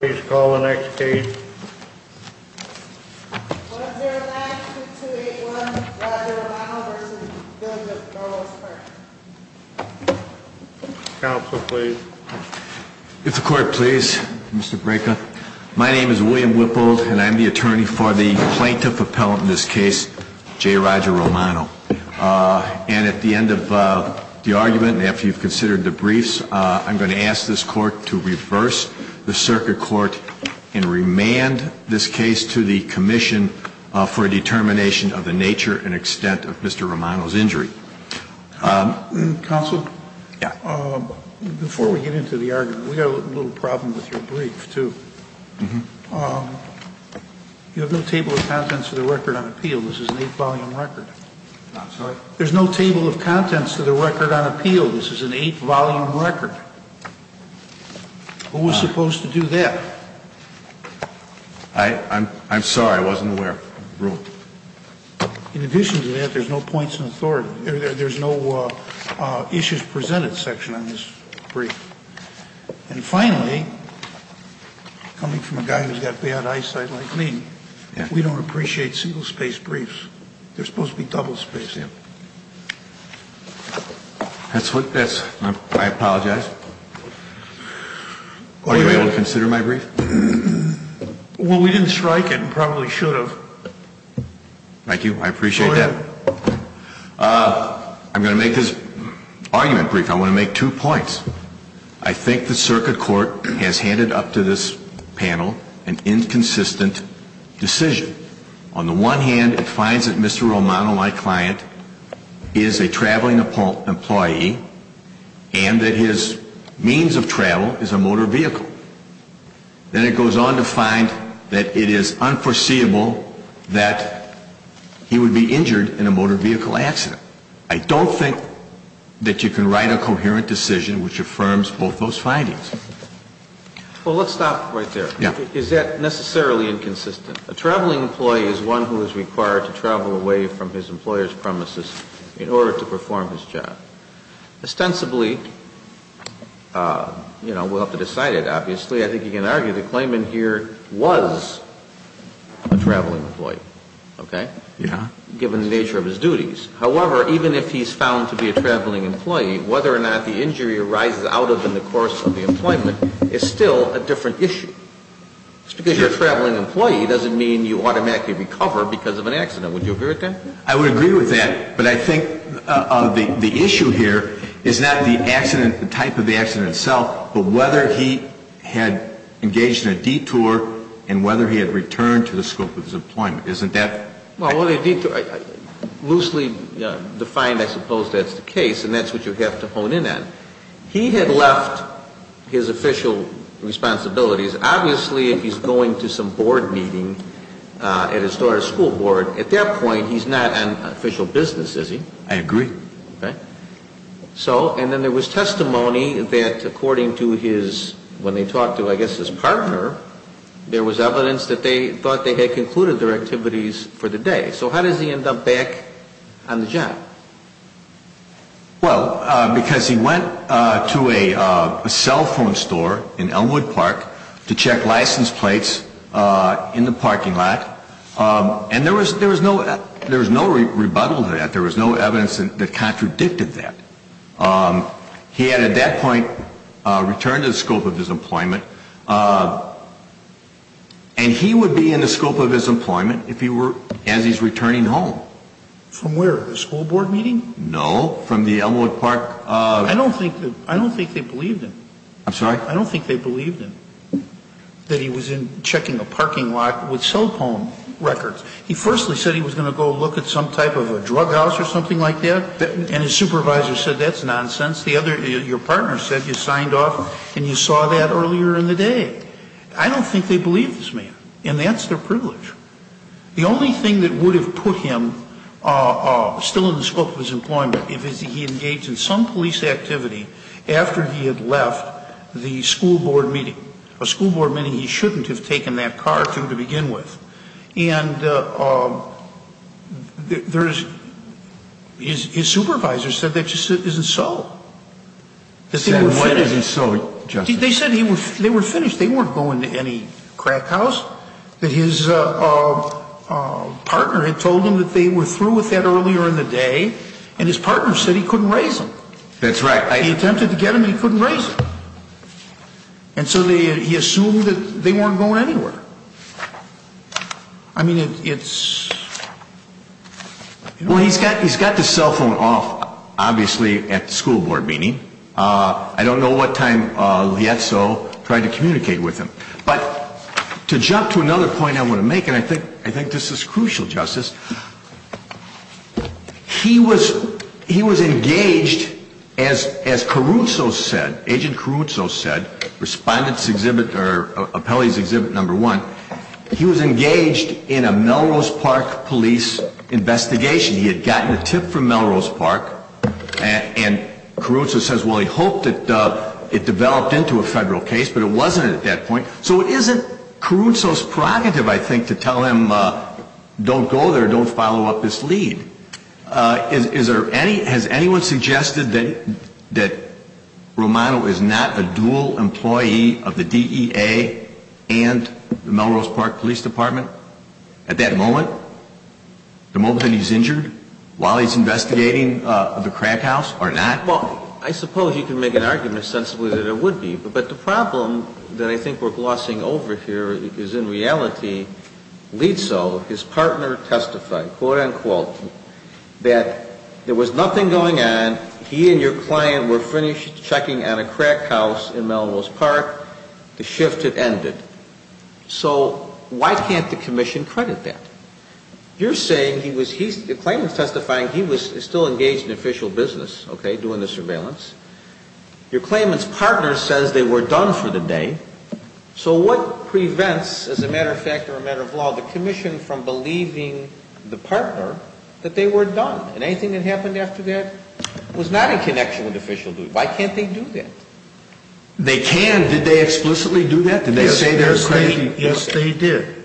Please call the next case. 109-2281 Roger Romano v. Douglas Burleson Counsel, please. If the court please, Mr. Breka. My name is William Whippold, and I'm the attorney for the plaintiff appellant in this case, J. Roger Romano. And at the end of the argument, and after you've considered the briefs, I'm going to ask this court to reverse the circuit court and remand this case to the commission for a determination of the nature and extent of Mr. Romano's injury. Counsel? Yeah. Before we get into the argument, we've got a little problem with your brief, too. Uh-huh. You have no table of contents for the record on appeal. This is an eight-volume record. I'm sorry? There's no table of contents for the record on appeal. This is an eight-volume record. Who was supposed to do that? I'm sorry. I wasn't aware. Rule. In addition to that, there's no points in authority. There's no issues presented section on this brief. And finally, coming from a guy who's got bad eyesight like me, we don't appreciate single-space briefs. They're supposed to be double-spaced. Yeah. I apologize. Are you able to consider my brief? Well, we didn't strike it and probably should have. Thank you. I appreciate that. I'm going to make this argument brief. I want to make two points. I think the circuit court has handed up to this panel an inconsistent decision. On the one hand, it finds that Mr. Romano, my client, is a traveling employee and that his means of travel is a motor vehicle. Then it goes on to find that it is unforeseeable that he would be injured in a motor vehicle accident. I don't think that you can write a coherent decision which affirms both those findings. Well, let's stop right there. Yeah. Is that necessarily inconsistent? A traveling employee is one who is required to travel away from his employer's premises in order to perform his job. Ostensibly, you know, we'll have to decide it, obviously. I think you can argue the claimant here was a traveling employee, okay? Yeah. Given the nature of his duties. However, even if he's found to be a traveling employee, whether or not the injury arises out of him in the course of the employment is still a different issue. Just because you're a traveling employee doesn't mean you automatically recover because of an accident. Would you agree with that? I would agree with that, but I think the issue here is not the accident, the type of the accident itself, but whether he had engaged in a detour and whether he had returned to the scope of his employment. Isn't that? Well, loosely defined, I suppose that's the case, and that's what you have to hone in on. He had left his official responsibilities. Obviously, if he's going to some board meeting at his store or school board, at that point, he's not on official business, is he? I agree. Okay. So, and then there was testimony that according to his, when they talked to, I guess, his partner, there was evidence that they thought they had concluded their activities for the day. So how does he end up back on the job? Well, because he went to a cell phone store in Elmwood Park to check license plates in the parking lot, and there was no rebuttal to that. There was no evidence that contradicted that. He had, at that point, returned to the scope of his employment, and he would be in the scope of his employment if he were, as he's returning home. From where? The school board meeting? No, from the Elmwood Park. I don't think they believed him. I'm sorry? I don't think they believed him, that he was checking a parking lot with cell phone records. He firstly said he was going to go look at some type of a drug house or something like that, and his supervisor said that's nonsense. Your partner said you signed off and you saw that earlier in the day. I don't think they believed this man, and that's their privilege. The only thing that would have put him still in the scope of his employment, if he had engaged in some police activity after he had left the school board meeting, a school board meeting he shouldn't have taken that car to to begin with. And there's his supervisor said that just isn't so. Said when isn't so, Justice? They said they were finished. They weren't going to any crack house. That his partner had told him that they were through with that earlier in the day, and his partner said he couldn't raise him. That's right. He attempted to get him, and he couldn't raise him. And so he assumed that they weren't going anywhere. I mean, it's... Well, he's got the cell phone off, obviously, at the school board meeting. I don't know what time Liezo tried to communicate with him. But to jump to another point I want to make, and I think this is crucial, Justice, he was engaged, as Caruso said, Agent Caruso said, Respondent's Exhibit or Appellee's Exhibit No. 1, he was engaged in a Melrose Park police investigation. He had gotten a tip from Melrose Park, and Caruso says, well, he hoped that it developed into a federal case, but it wasn't at that point. So it isn't Caruso's prerogative, I think, to tell him don't go there, don't follow up this lead. Has anyone suggested that Romano is not a dual employee of the DEA and the Melrose Park Police Department at that moment? The moment that he's injured while he's investigating the crack house or not? Well, I suppose you can make an argument sensibly that it would be. But the problem that I think we're glossing over here is in reality Liezo, his partner, testified, quote, unquote, that there was nothing going on. He and your client were finished checking on a crack house in Melrose Park. The shift had ended. So why can't the commission credit that? You're saying he was, the claimant's testifying he was still engaged in official business, okay, doing the surveillance. Your claimant's partner says they were done for the day. So what prevents, as a matter of fact or a matter of law, the commission from believing the partner that they were done? And anything that happened after that was not in connection with official duty. Why can't they do that? They can. Did they explicitly do that? Did they say their claim? Yes, they did.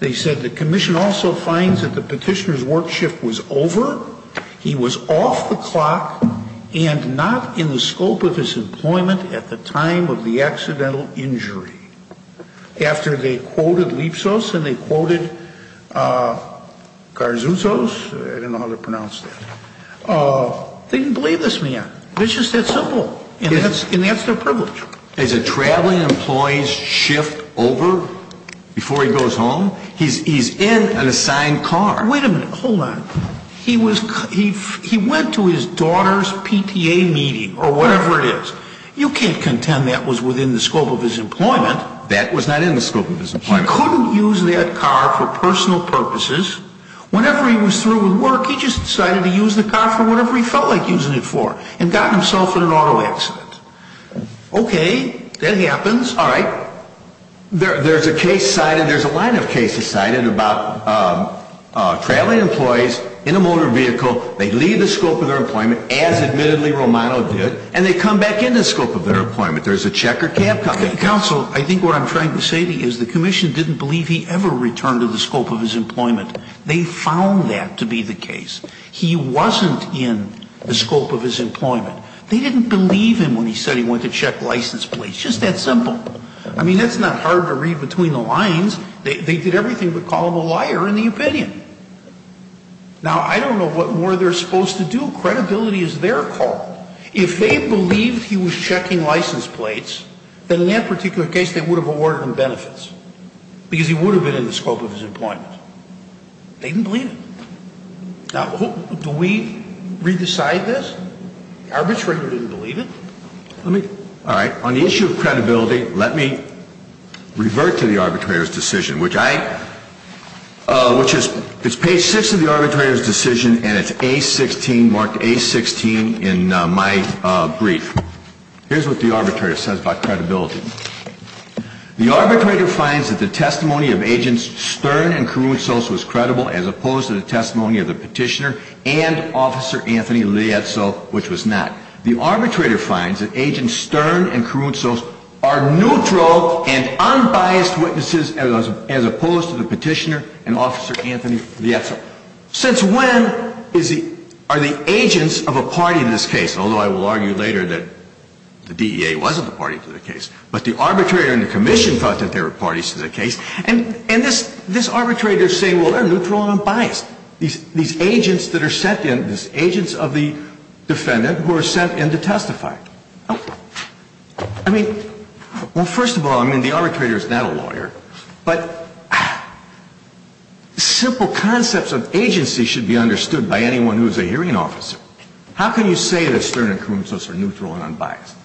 They said the commission also finds that the petitioner's work shift was over, he was off the clock, and not in the scope of his employment at the time of the accidental injury. After they quoted Liezo and they quoted Garzuzos, I don't know how to pronounce that, they didn't believe this man. It's just that simple. And that's their privilege. As a traveling employee's shift over before he goes home, he's in an assigned car. Wait a minute. Hold on. He went to his daughter's PTA meeting or whatever it is. You can't contend that was within the scope of his employment. That was not in the scope of his employment. He couldn't use that car for personal purposes. Whenever he was through with work, he just decided to use the car for whatever he felt like using it for and got himself in an auto accident. Okay. That happens. All right. There's a case cited, there's a line of cases cited about traveling employees in a motor vehicle. They leave the scope of their employment, as admittedly Romano did, and they come back in the scope of their employment. There's a check or cap. Counsel, I think what I'm trying to say to you is the commission didn't believe he ever returned to the scope of his employment. They found that to be the case. He wasn't in the scope of his employment. They didn't believe him when he said he went to check license plates. Just that simple. I mean, it's not hard to read between the lines. They did everything but call him a liar in the opinion. Now, I don't know what more they're supposed to do. Credibility is their call. If they believed he was checking license plates, then in that particular case they would have awarded him benefits because he would have been in the scope of his employment. They didn't believe him. Now, do we re-decide this? The arbitrator didn't believe it? All right. On the issue of credibility, let me revert to the arbitrator's decision, which I – which is – it's page 6 of the arbitrator's decision, and it's A16, marked A16, in my brief. Here's what the arbitrator says about credibility. The arbitrator finds that the testimony of Agents Stern and Karounsos was credible as opposed to the testimony of the petitioner and Officer Anthony Lietzo, which was not. The arbitrator finds that Agents Stern and Karounsos are neutral and unbiased witnesses as opposed to the petitioner and Officer Anthony Lietzo. Since when are the agents of a party in this case – although I will argue later that the DEA wasn't the party to the case – but the arbitrator and the commission thought that they were parties to the case? And this arbitrator is saying, well, they're neutral and unbiased, these agents that are sent in, these agents of the defendant who are sent in to testify. I mean, well, first of all, I mean, the arbitrator is not a lawyer, but simple concepts of agency should be understood by anyone who is a hearing officer. How can you say that Stern and Karounsos are neutral and unbiased?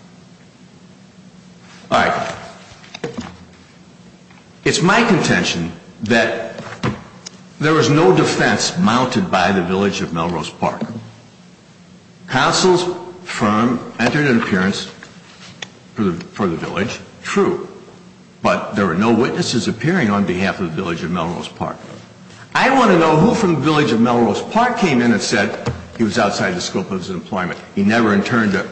All right. It's my contention that there was no defense mounted by the village of Melrose Park. Counsel's firm entered an appearance for the village, true, but there were no witnesses appearing on behalf of the village of Melrose Park. I want to know who from the village of Melrose Park came in and said he was outside the scope of his employment. He never intended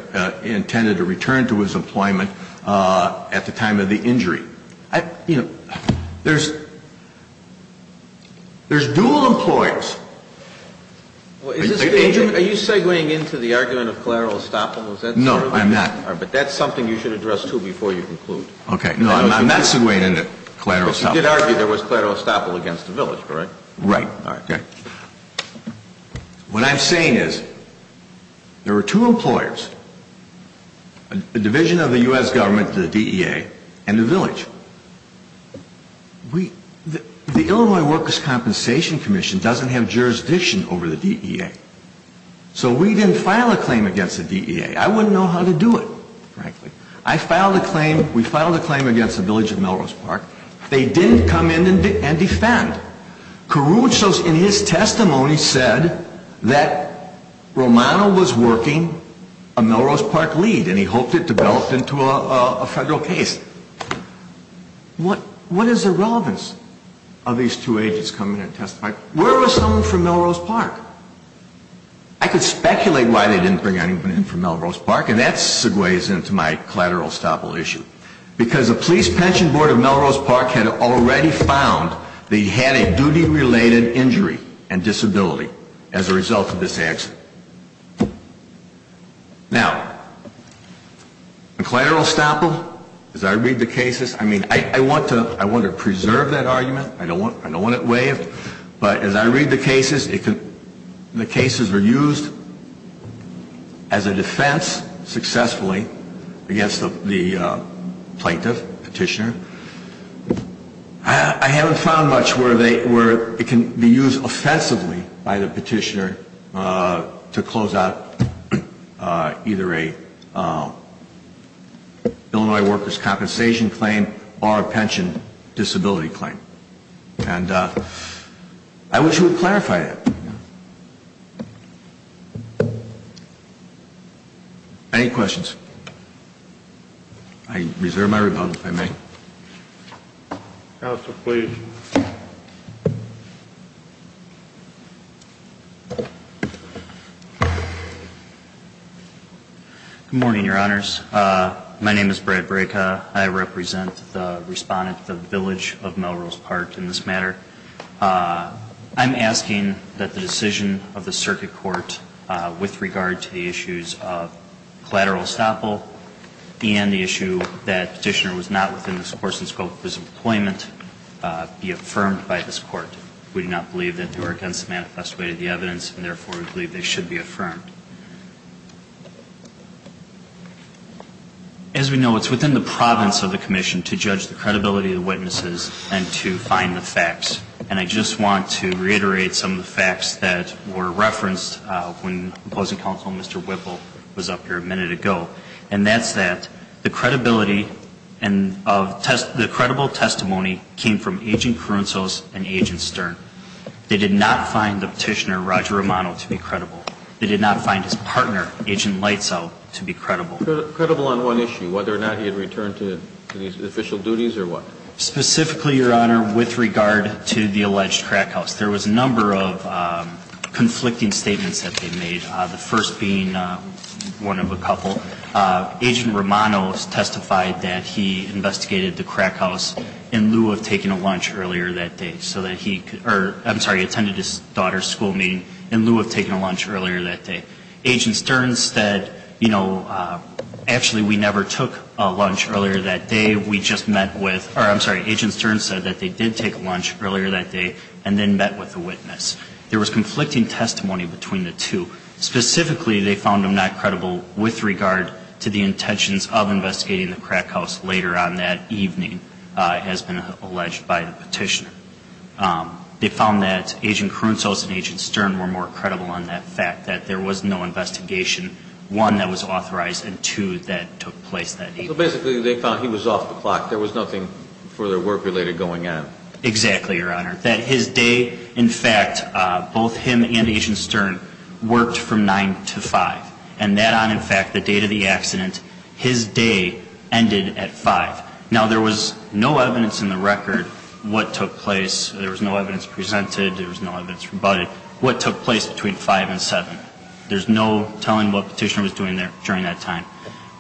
to return to his employment at the time of the injury. You know, there's dual employees. Are you segueing into the argument of collateral estoppel? No, I'm not. But that's something you should address, too, before you conclude. Okay. No, I'm not segueing into collateral estoppel. But you did argue there was collateral estoppel against the village, correct? Right. Okay. What I'm saying is there were two employers, a division of the U.S. government, the DEA, and the village. The Illinois Workers' Compensation Commission doesn't have jurisdiction over the DEA. So we didn't file a claim against the DEA. I wouldn't know how to do it, frankly. I filed a claim. We filed a claim against the village of Melrose Park. They didn't come in and defend. Caruso, in his testimony, said that Romano was working a Melrose Park lead, and he hoped it developed into a federal case. What is the relevance of these two agents coming in and testifying? Where was someone from Melrose Park? I could speculate why they didn't bring anyone in from Melrose Park, and that segues into my collateral estoppel issue. Because the police pension board of Melrose Park had already found that he had a duty-related injury and disability as a result of this action. Now, the collateral estoppel, as I read the cases, I mean, I want to preserve that argument. I don't want it waived. But as I read the cases, the cases were used as a defense successfully against the plaintiff, petitioner. I haven't found much where it can be used offensively by the petitioner to close out either an Illinois worker's compensation claim or a pension disability claim. And I wish you would clarify that. Any questions? I reserve my rebuttal, if I may. Counsel, please. Good morning, Your Honors. My name is Brad Breka. I represent the Respondent of the Village of Melrose Park in this matter. I'm asking that the decision of the Circuit Court with regard to the issues of collateral estoppel and the issue that petitioner was not within the course and scope of his employment be affirmed by this Court. We do not believe that they were against the manifest way of the evidence, and therefore, we believe they should be affirmed. As we know, it's within the province of the Commission to judge the credibility of the witnesses and to find the facts. And I just want to reiterate some of the facts that were referenced when Opposing Counsel Mr. Whipple was up here a minute ago. And that's that the credibility and of the credible testimony came from Agent Carunzos and Agent Stern. They did not find the petitioner, Roger Romano, to be credible. They did not find his partner, Agent Leitzel, to be credible. Credible on one issue, whether or not he had returned to his official duties or what? Specifically, Your Honor, with regard to the alleged crack house. There was a number of conflicting statements that they made, the first being one of a couple. Agent Romano testified that he investigated the crack house in lieu of taking a lunch earlier that day. So that he could, or I'm sorry, attended his daughter's school meeting in lieu of taking a lunch earlier that day. Agent Stern said, you know, actually we never took a lunch earlier that day. We just met with, or I'm sorry, Agent Stern said that they did take a lunch earlier that day and then met with a witness. There was conflicting testimony between the two. Specifically, they found him not credible with regard to the intentions of investigating the crack house later on that evening, as been alleged by the petitioner. They found that Agent Carunzos and Agent Stern were more credible on that fact, that there was no investigation, one, that was authorized, and two, that took place that evening. So basically they found he was off the clock. There was nothing further work-related going on. Exactly, Your Honor. That his day, in fact, both him and Agent Stern worked from 9 to 5. And that on, in fact, the date of the accident, his day ended at 5. Now, there was no evidence in the record what took place. There was no evidence presented. There was no evidence rebutted. What took place between 5 and 7? There's no telling what the petitioner was doing during that time.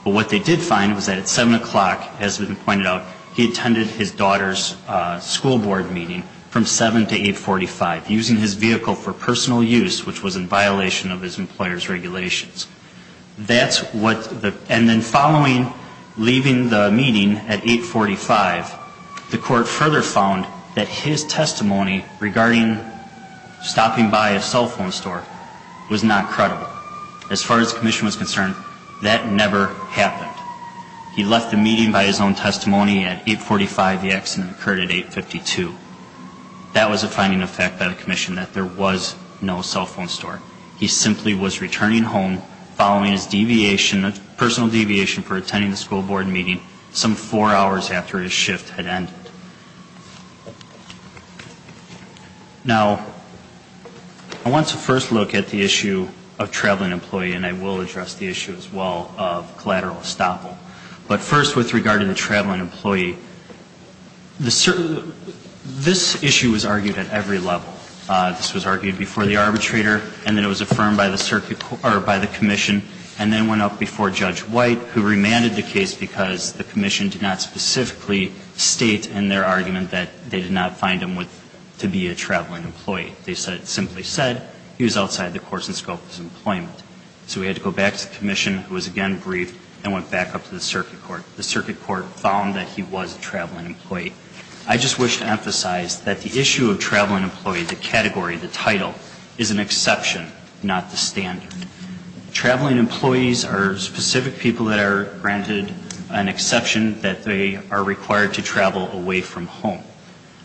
But what they did find was that at 7 o'clock, as has been pointed out, he attended his daughter's school board meeting from 7 to 845, using his vehicle for personal use, which was in violation of his employer's regulations. That's what the, and then following leaving the meeting at 845, the court further found that his testimony regarding stopping by a cell phone store was not credible. As far as the commission was concerned, that never happened. He left the meeting by his own testimony at 845. The accident occurred at 852. That was a finding of fact by the commission, that there was no cell phone store. He simply was returning home following his deviation, personal deviation for attending the school board meeting some four hours after his shift had ended. Now, I want to first look at the issue of traveling employee, and I will address the issue as well of collateral estoppel. But first, with regard to the traveling employee, this issue was argued at every level. This was argued before the arbitrator, and then it was affirmed by the circuit court, or by the commission, and then went up before Judge White, who remanded the case because the commission did not specifically state in their argument that they did not find him to be a traveling employee. So we had to go back to the commission, who was again briefed, and went back up to the circuit court. The circuit court found that he was a traveling employee. I just wish to emphasize that the issue of traveling employee, the category, the title, is an exception, not the standard. Traveling employees are specific people that are granted an exception that they are required to travel away from home.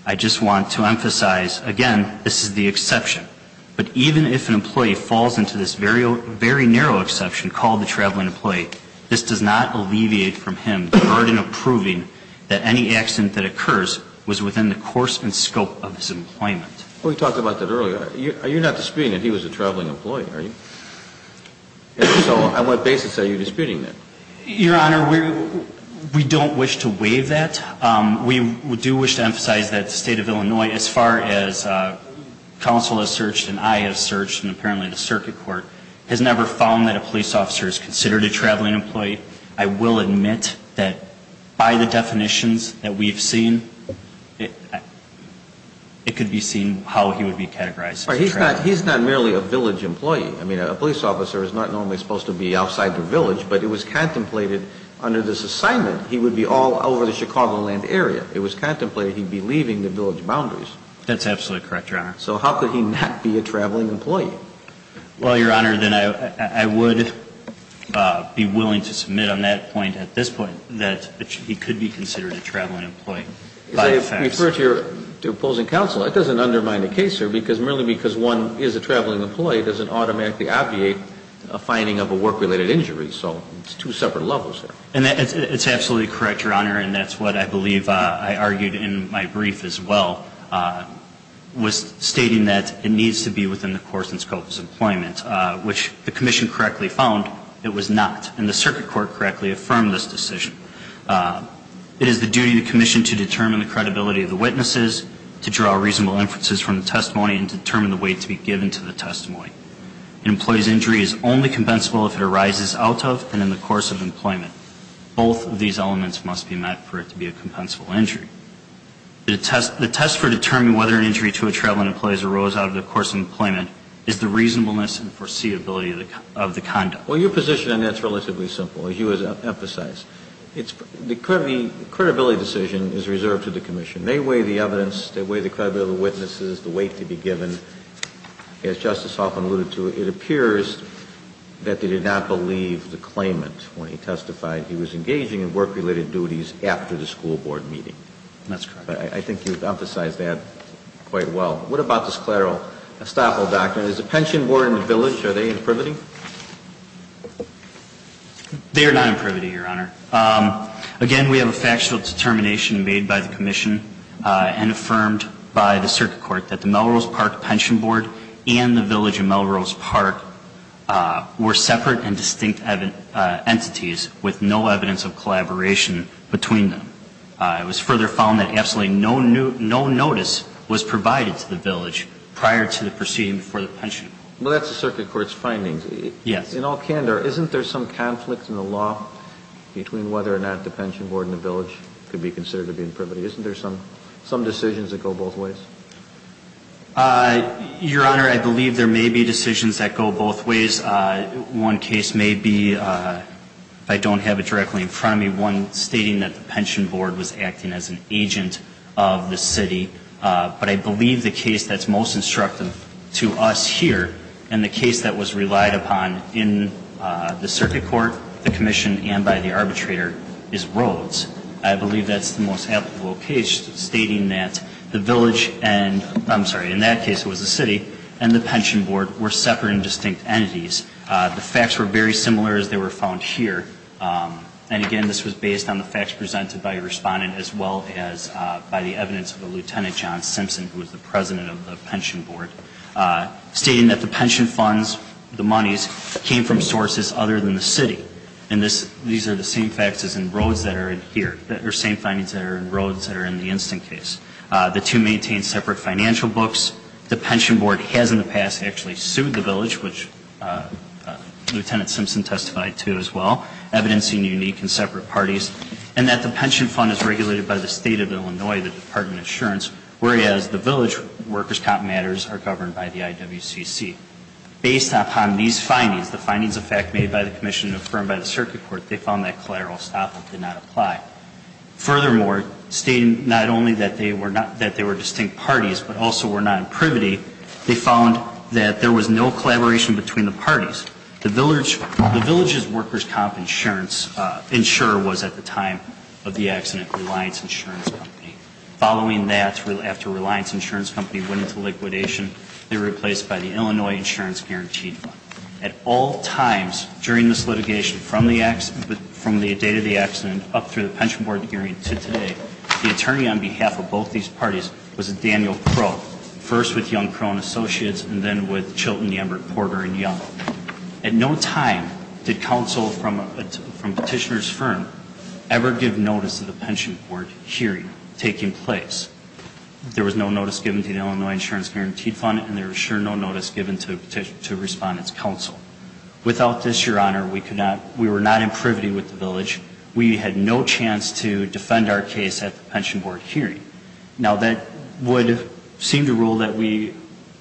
I just want to emphasize, again, this is the exception. But even if an employee falls into this very narrow exception called the traveling employee, this does not alleviate from him the burden of proving that any accident that occurs was within the course and scope of his employment. We talked about that earlier. You're not disputing that he was a traveling employee, are you? So on what basis are you disputing that? Your Honor, we don't wish to waive that. We do wish to emphasize that the State of Illinois, as far as counsel has searched and I have searched and apparently the circuit court, has never found that a police officer is considered a traveling employee. I will admit that by the definitions that we've seen, it could be seen how he would be categorized. He's not merely a village employee. I mean, a police officer is not normally supposed to be outside the village, but it was contemplated under this assignment. He would be all over the Chicagoland area. It was contemplated he'd be leaving the village boundaries. That's absolutely correct, Your Honor. So how could he not be a traveling employee? Well, Your Honor, then I would be willing to submit on that point at this point that he could be considered a traveling employee. If I refer to your opposing counsel, that doesn't undermine the case, sir, because merely because one is a traveling employee doesn't automatically obviate a finding of a work-related injury. So it's two separate levels. It's absolutely correct, Your Honor, and that's what I believe I argued in my brief as well, was stating that it needs to be within the course and scope of his employment, which the commission correctly found it was not, and the circuit court correctly affirmed this decision. It is the duty of the commission to determine the credibility of the witnesses, to draw reasonable inferences from the testimony, and to determine the weight to be given to the testimony. An employee's injury is only compensable if it arises out of and in the course of employment. Both of these elements must be met for it to be a compensable injury. The test for determining whether an injury to a traveling employee arose out of the course of employment is the reasonableness and foreseeability of the conduct. Well, your position on that is relatively simple, as you have emphasized. The credibility decision is reserved to the commission. They weigh the evidence. They weigh the credibility of the witnesses, the weight to be given. As Justice Hoffman alluded to, it appears that they did not believe the claimant when he testified he was engaging in work-related duties after the school board meeting. That's correct. I think you've emphasized that quite well. What about this collateral estoppel doctrine? Is the pension board and the village, are they in privity? They are not in privity, Your Honor. Again, we have a factual determination made by the commission and affirmed by the court that the pension board and the village in part were separate and distinct entities with no evidence of collaboration between them. It was further found that absolutely no notice was provided to the village prior to the proceeding before the pension board. Well, that's the circuit court's findings. Yes. In all candor, isn't there some conflict in the law between whether or not the pension board and the village could be considered to be in privity? Isn't there some decisions that go both ways? Your Honor, I believe there may be decisions that go both ways. One case may be, if I don't have it directly in front of me, one stating that the pension board was acting as an agent of the city. But I believe the case that's most instructive to us here and the case that was relied upon in the circuit court, the commission, and by the arbitrator is Rhodes. I believe that's the most applicable case stating that the village and, I'm sorry, in that case it was the city, and the pension board were separate and distinct entities. The facts were very similar as they were found here. And again, this was based on the facts presented by a respondent as well as by the evidence of a Lieutenant John Simpson, who was the president of the pension board, stating that the pension funds, the monies, came from sources other than the city. And these are the same facts as in Rhodes that are here, the same findings that are in Rhodes that are in the instant case. The two maintain separate financial books. The pension board has in the past actually sued the village, which Lieutenant Simpson testified to as well, evidencing unique and separate parties, and that the pension fund is regulated by the state of Illinois, the Department of Insurance, whereas the village workers' comp matters are governed by the IWCC. Based upon these findings, the findings of fact made by the commission and affirmed by the circuit court, they found that collateral estoppel did not apply. Furthermore, stating not only that they were distinct parties but also were not in privity, they found that there was no collaboration between the parties. The village's workers' comp insurance insurer was at the time of the accident Reliance Insurance Company. Following that, after Reliance Insurance Company went into liquidation, they were replaced by the Illinois Insurance Guaranteed Fund. At all times during this litigation from the day of the accident up through the pension board hearing to today, the attorney on behalf of both these parties was Daniel Crow, first with Young Crow and Associates and then with Chilton, Embert, Porter, and Young. At no time did counsel from Petitioner's Firm ever give notice to the pension board hearing taking place. There was no notice given to the Illinois Insurance Guaranteed Fund and there was sure no notice given to Respondent's Counsel. Without this, Your Honor, we were not in privity with the village. We had no chance to defend our case at the pension board hearing. Now, that would seem to rule that we,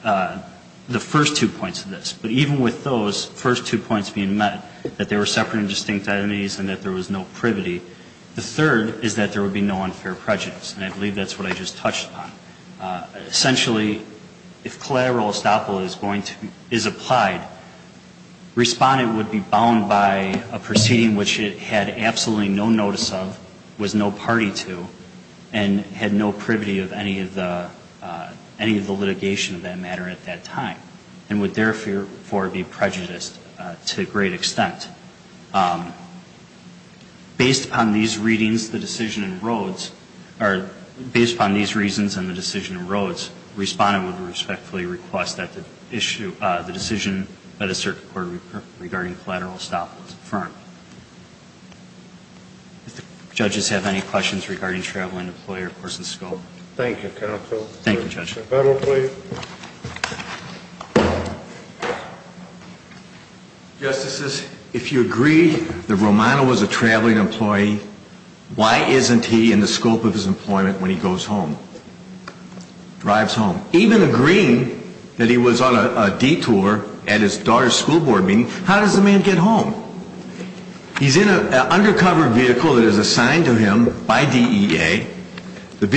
the first two points of this, but even with those first two points being met, that they were separate and distinct enemies and that there was no privity, the third is that there would be no unfair prejudice. And I believe that's what I just touched upon. Essentially, if collateral estoppel is applied, Respondent would be bound by a proceeding which it had absolutely no notice of, was no party to, and had no privity of any of the litigation of that matter at that time and would therefore be prejudiced to a great extent. Based upon these readings, the decision in Rhodes, or based upon these reasons and the decision in Rhodes, Respondent would respectfully request that the issue, the decision by the Circuit Court regarding collateral estoppel is affirmed. If the judges have any questions regarding travel and employee recourse and scope. Thank you, Counsel. Thank you, Judge. Federal please. Justices, if you agree that Romano was a traveling employee, why isn't he in the scope of his employment when he goes home? Drives home. Even agreeing that he was on a detour at his daughter's school board meeting, how does the man get home? He's in an undercover vehicle that is assigned to him by DEA. The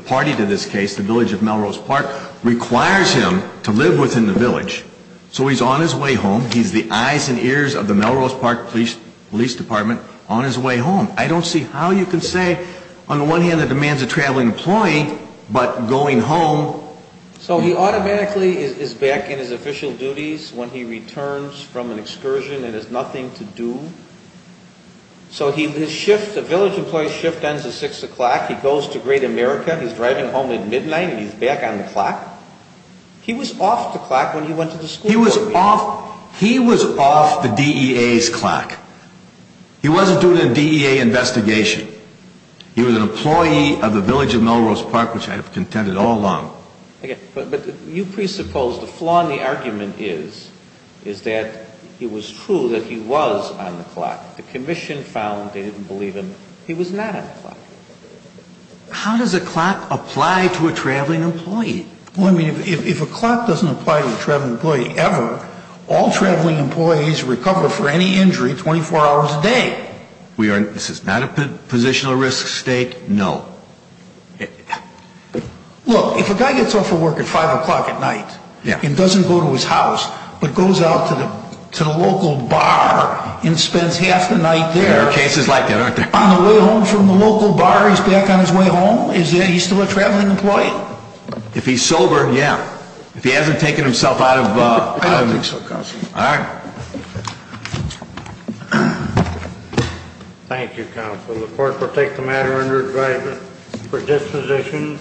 party to this case, the village of Melrose Park, requires him to live within the village. So he's on his way home. He's the eyes and ears of the Melrose Park Police Department on his way home. I don't see how you can say on the one hand that the man's a traveling employee, but going home. So he automatically is back in his official duties when he returns from an excursion and has nothing to do. So his shift, the village employee's shift ends at 6 o'clock. He goes to Great America. He's driving home at midnight and he's back on the clock. He was off the clock when he went to the school board meeting. He was off the DEA's clock. He wasn't doing a DEA investigation. He was an employee of the village of Melrose Park, which I have contended all along. But you presuppose the flaw in the argument is, is that it was true that he was on the clock. The commission found they didn't believe him. He was not on the clock. How does a clock apply to a traveling employee? Well, I mean, if a clock doesn't apply to a traveling employee ever, all traveling employees recover for any injury 24 hours a day. This is not a positional risk state? No. Look, if a guy gets off of work at 5 o'clock at night and doesn't go to his house, but goes out to the local bar and spends half the night there. There are cases like that, aren't there? On the way home from the local bar, he's back on his way home? Is he still a traveling employee? If he's sober, yeah. If he hasn't taken himself out of a... I don't think so, Counselor. All right. Thank you, Counselor. The court will take the matter under advisement for disposition.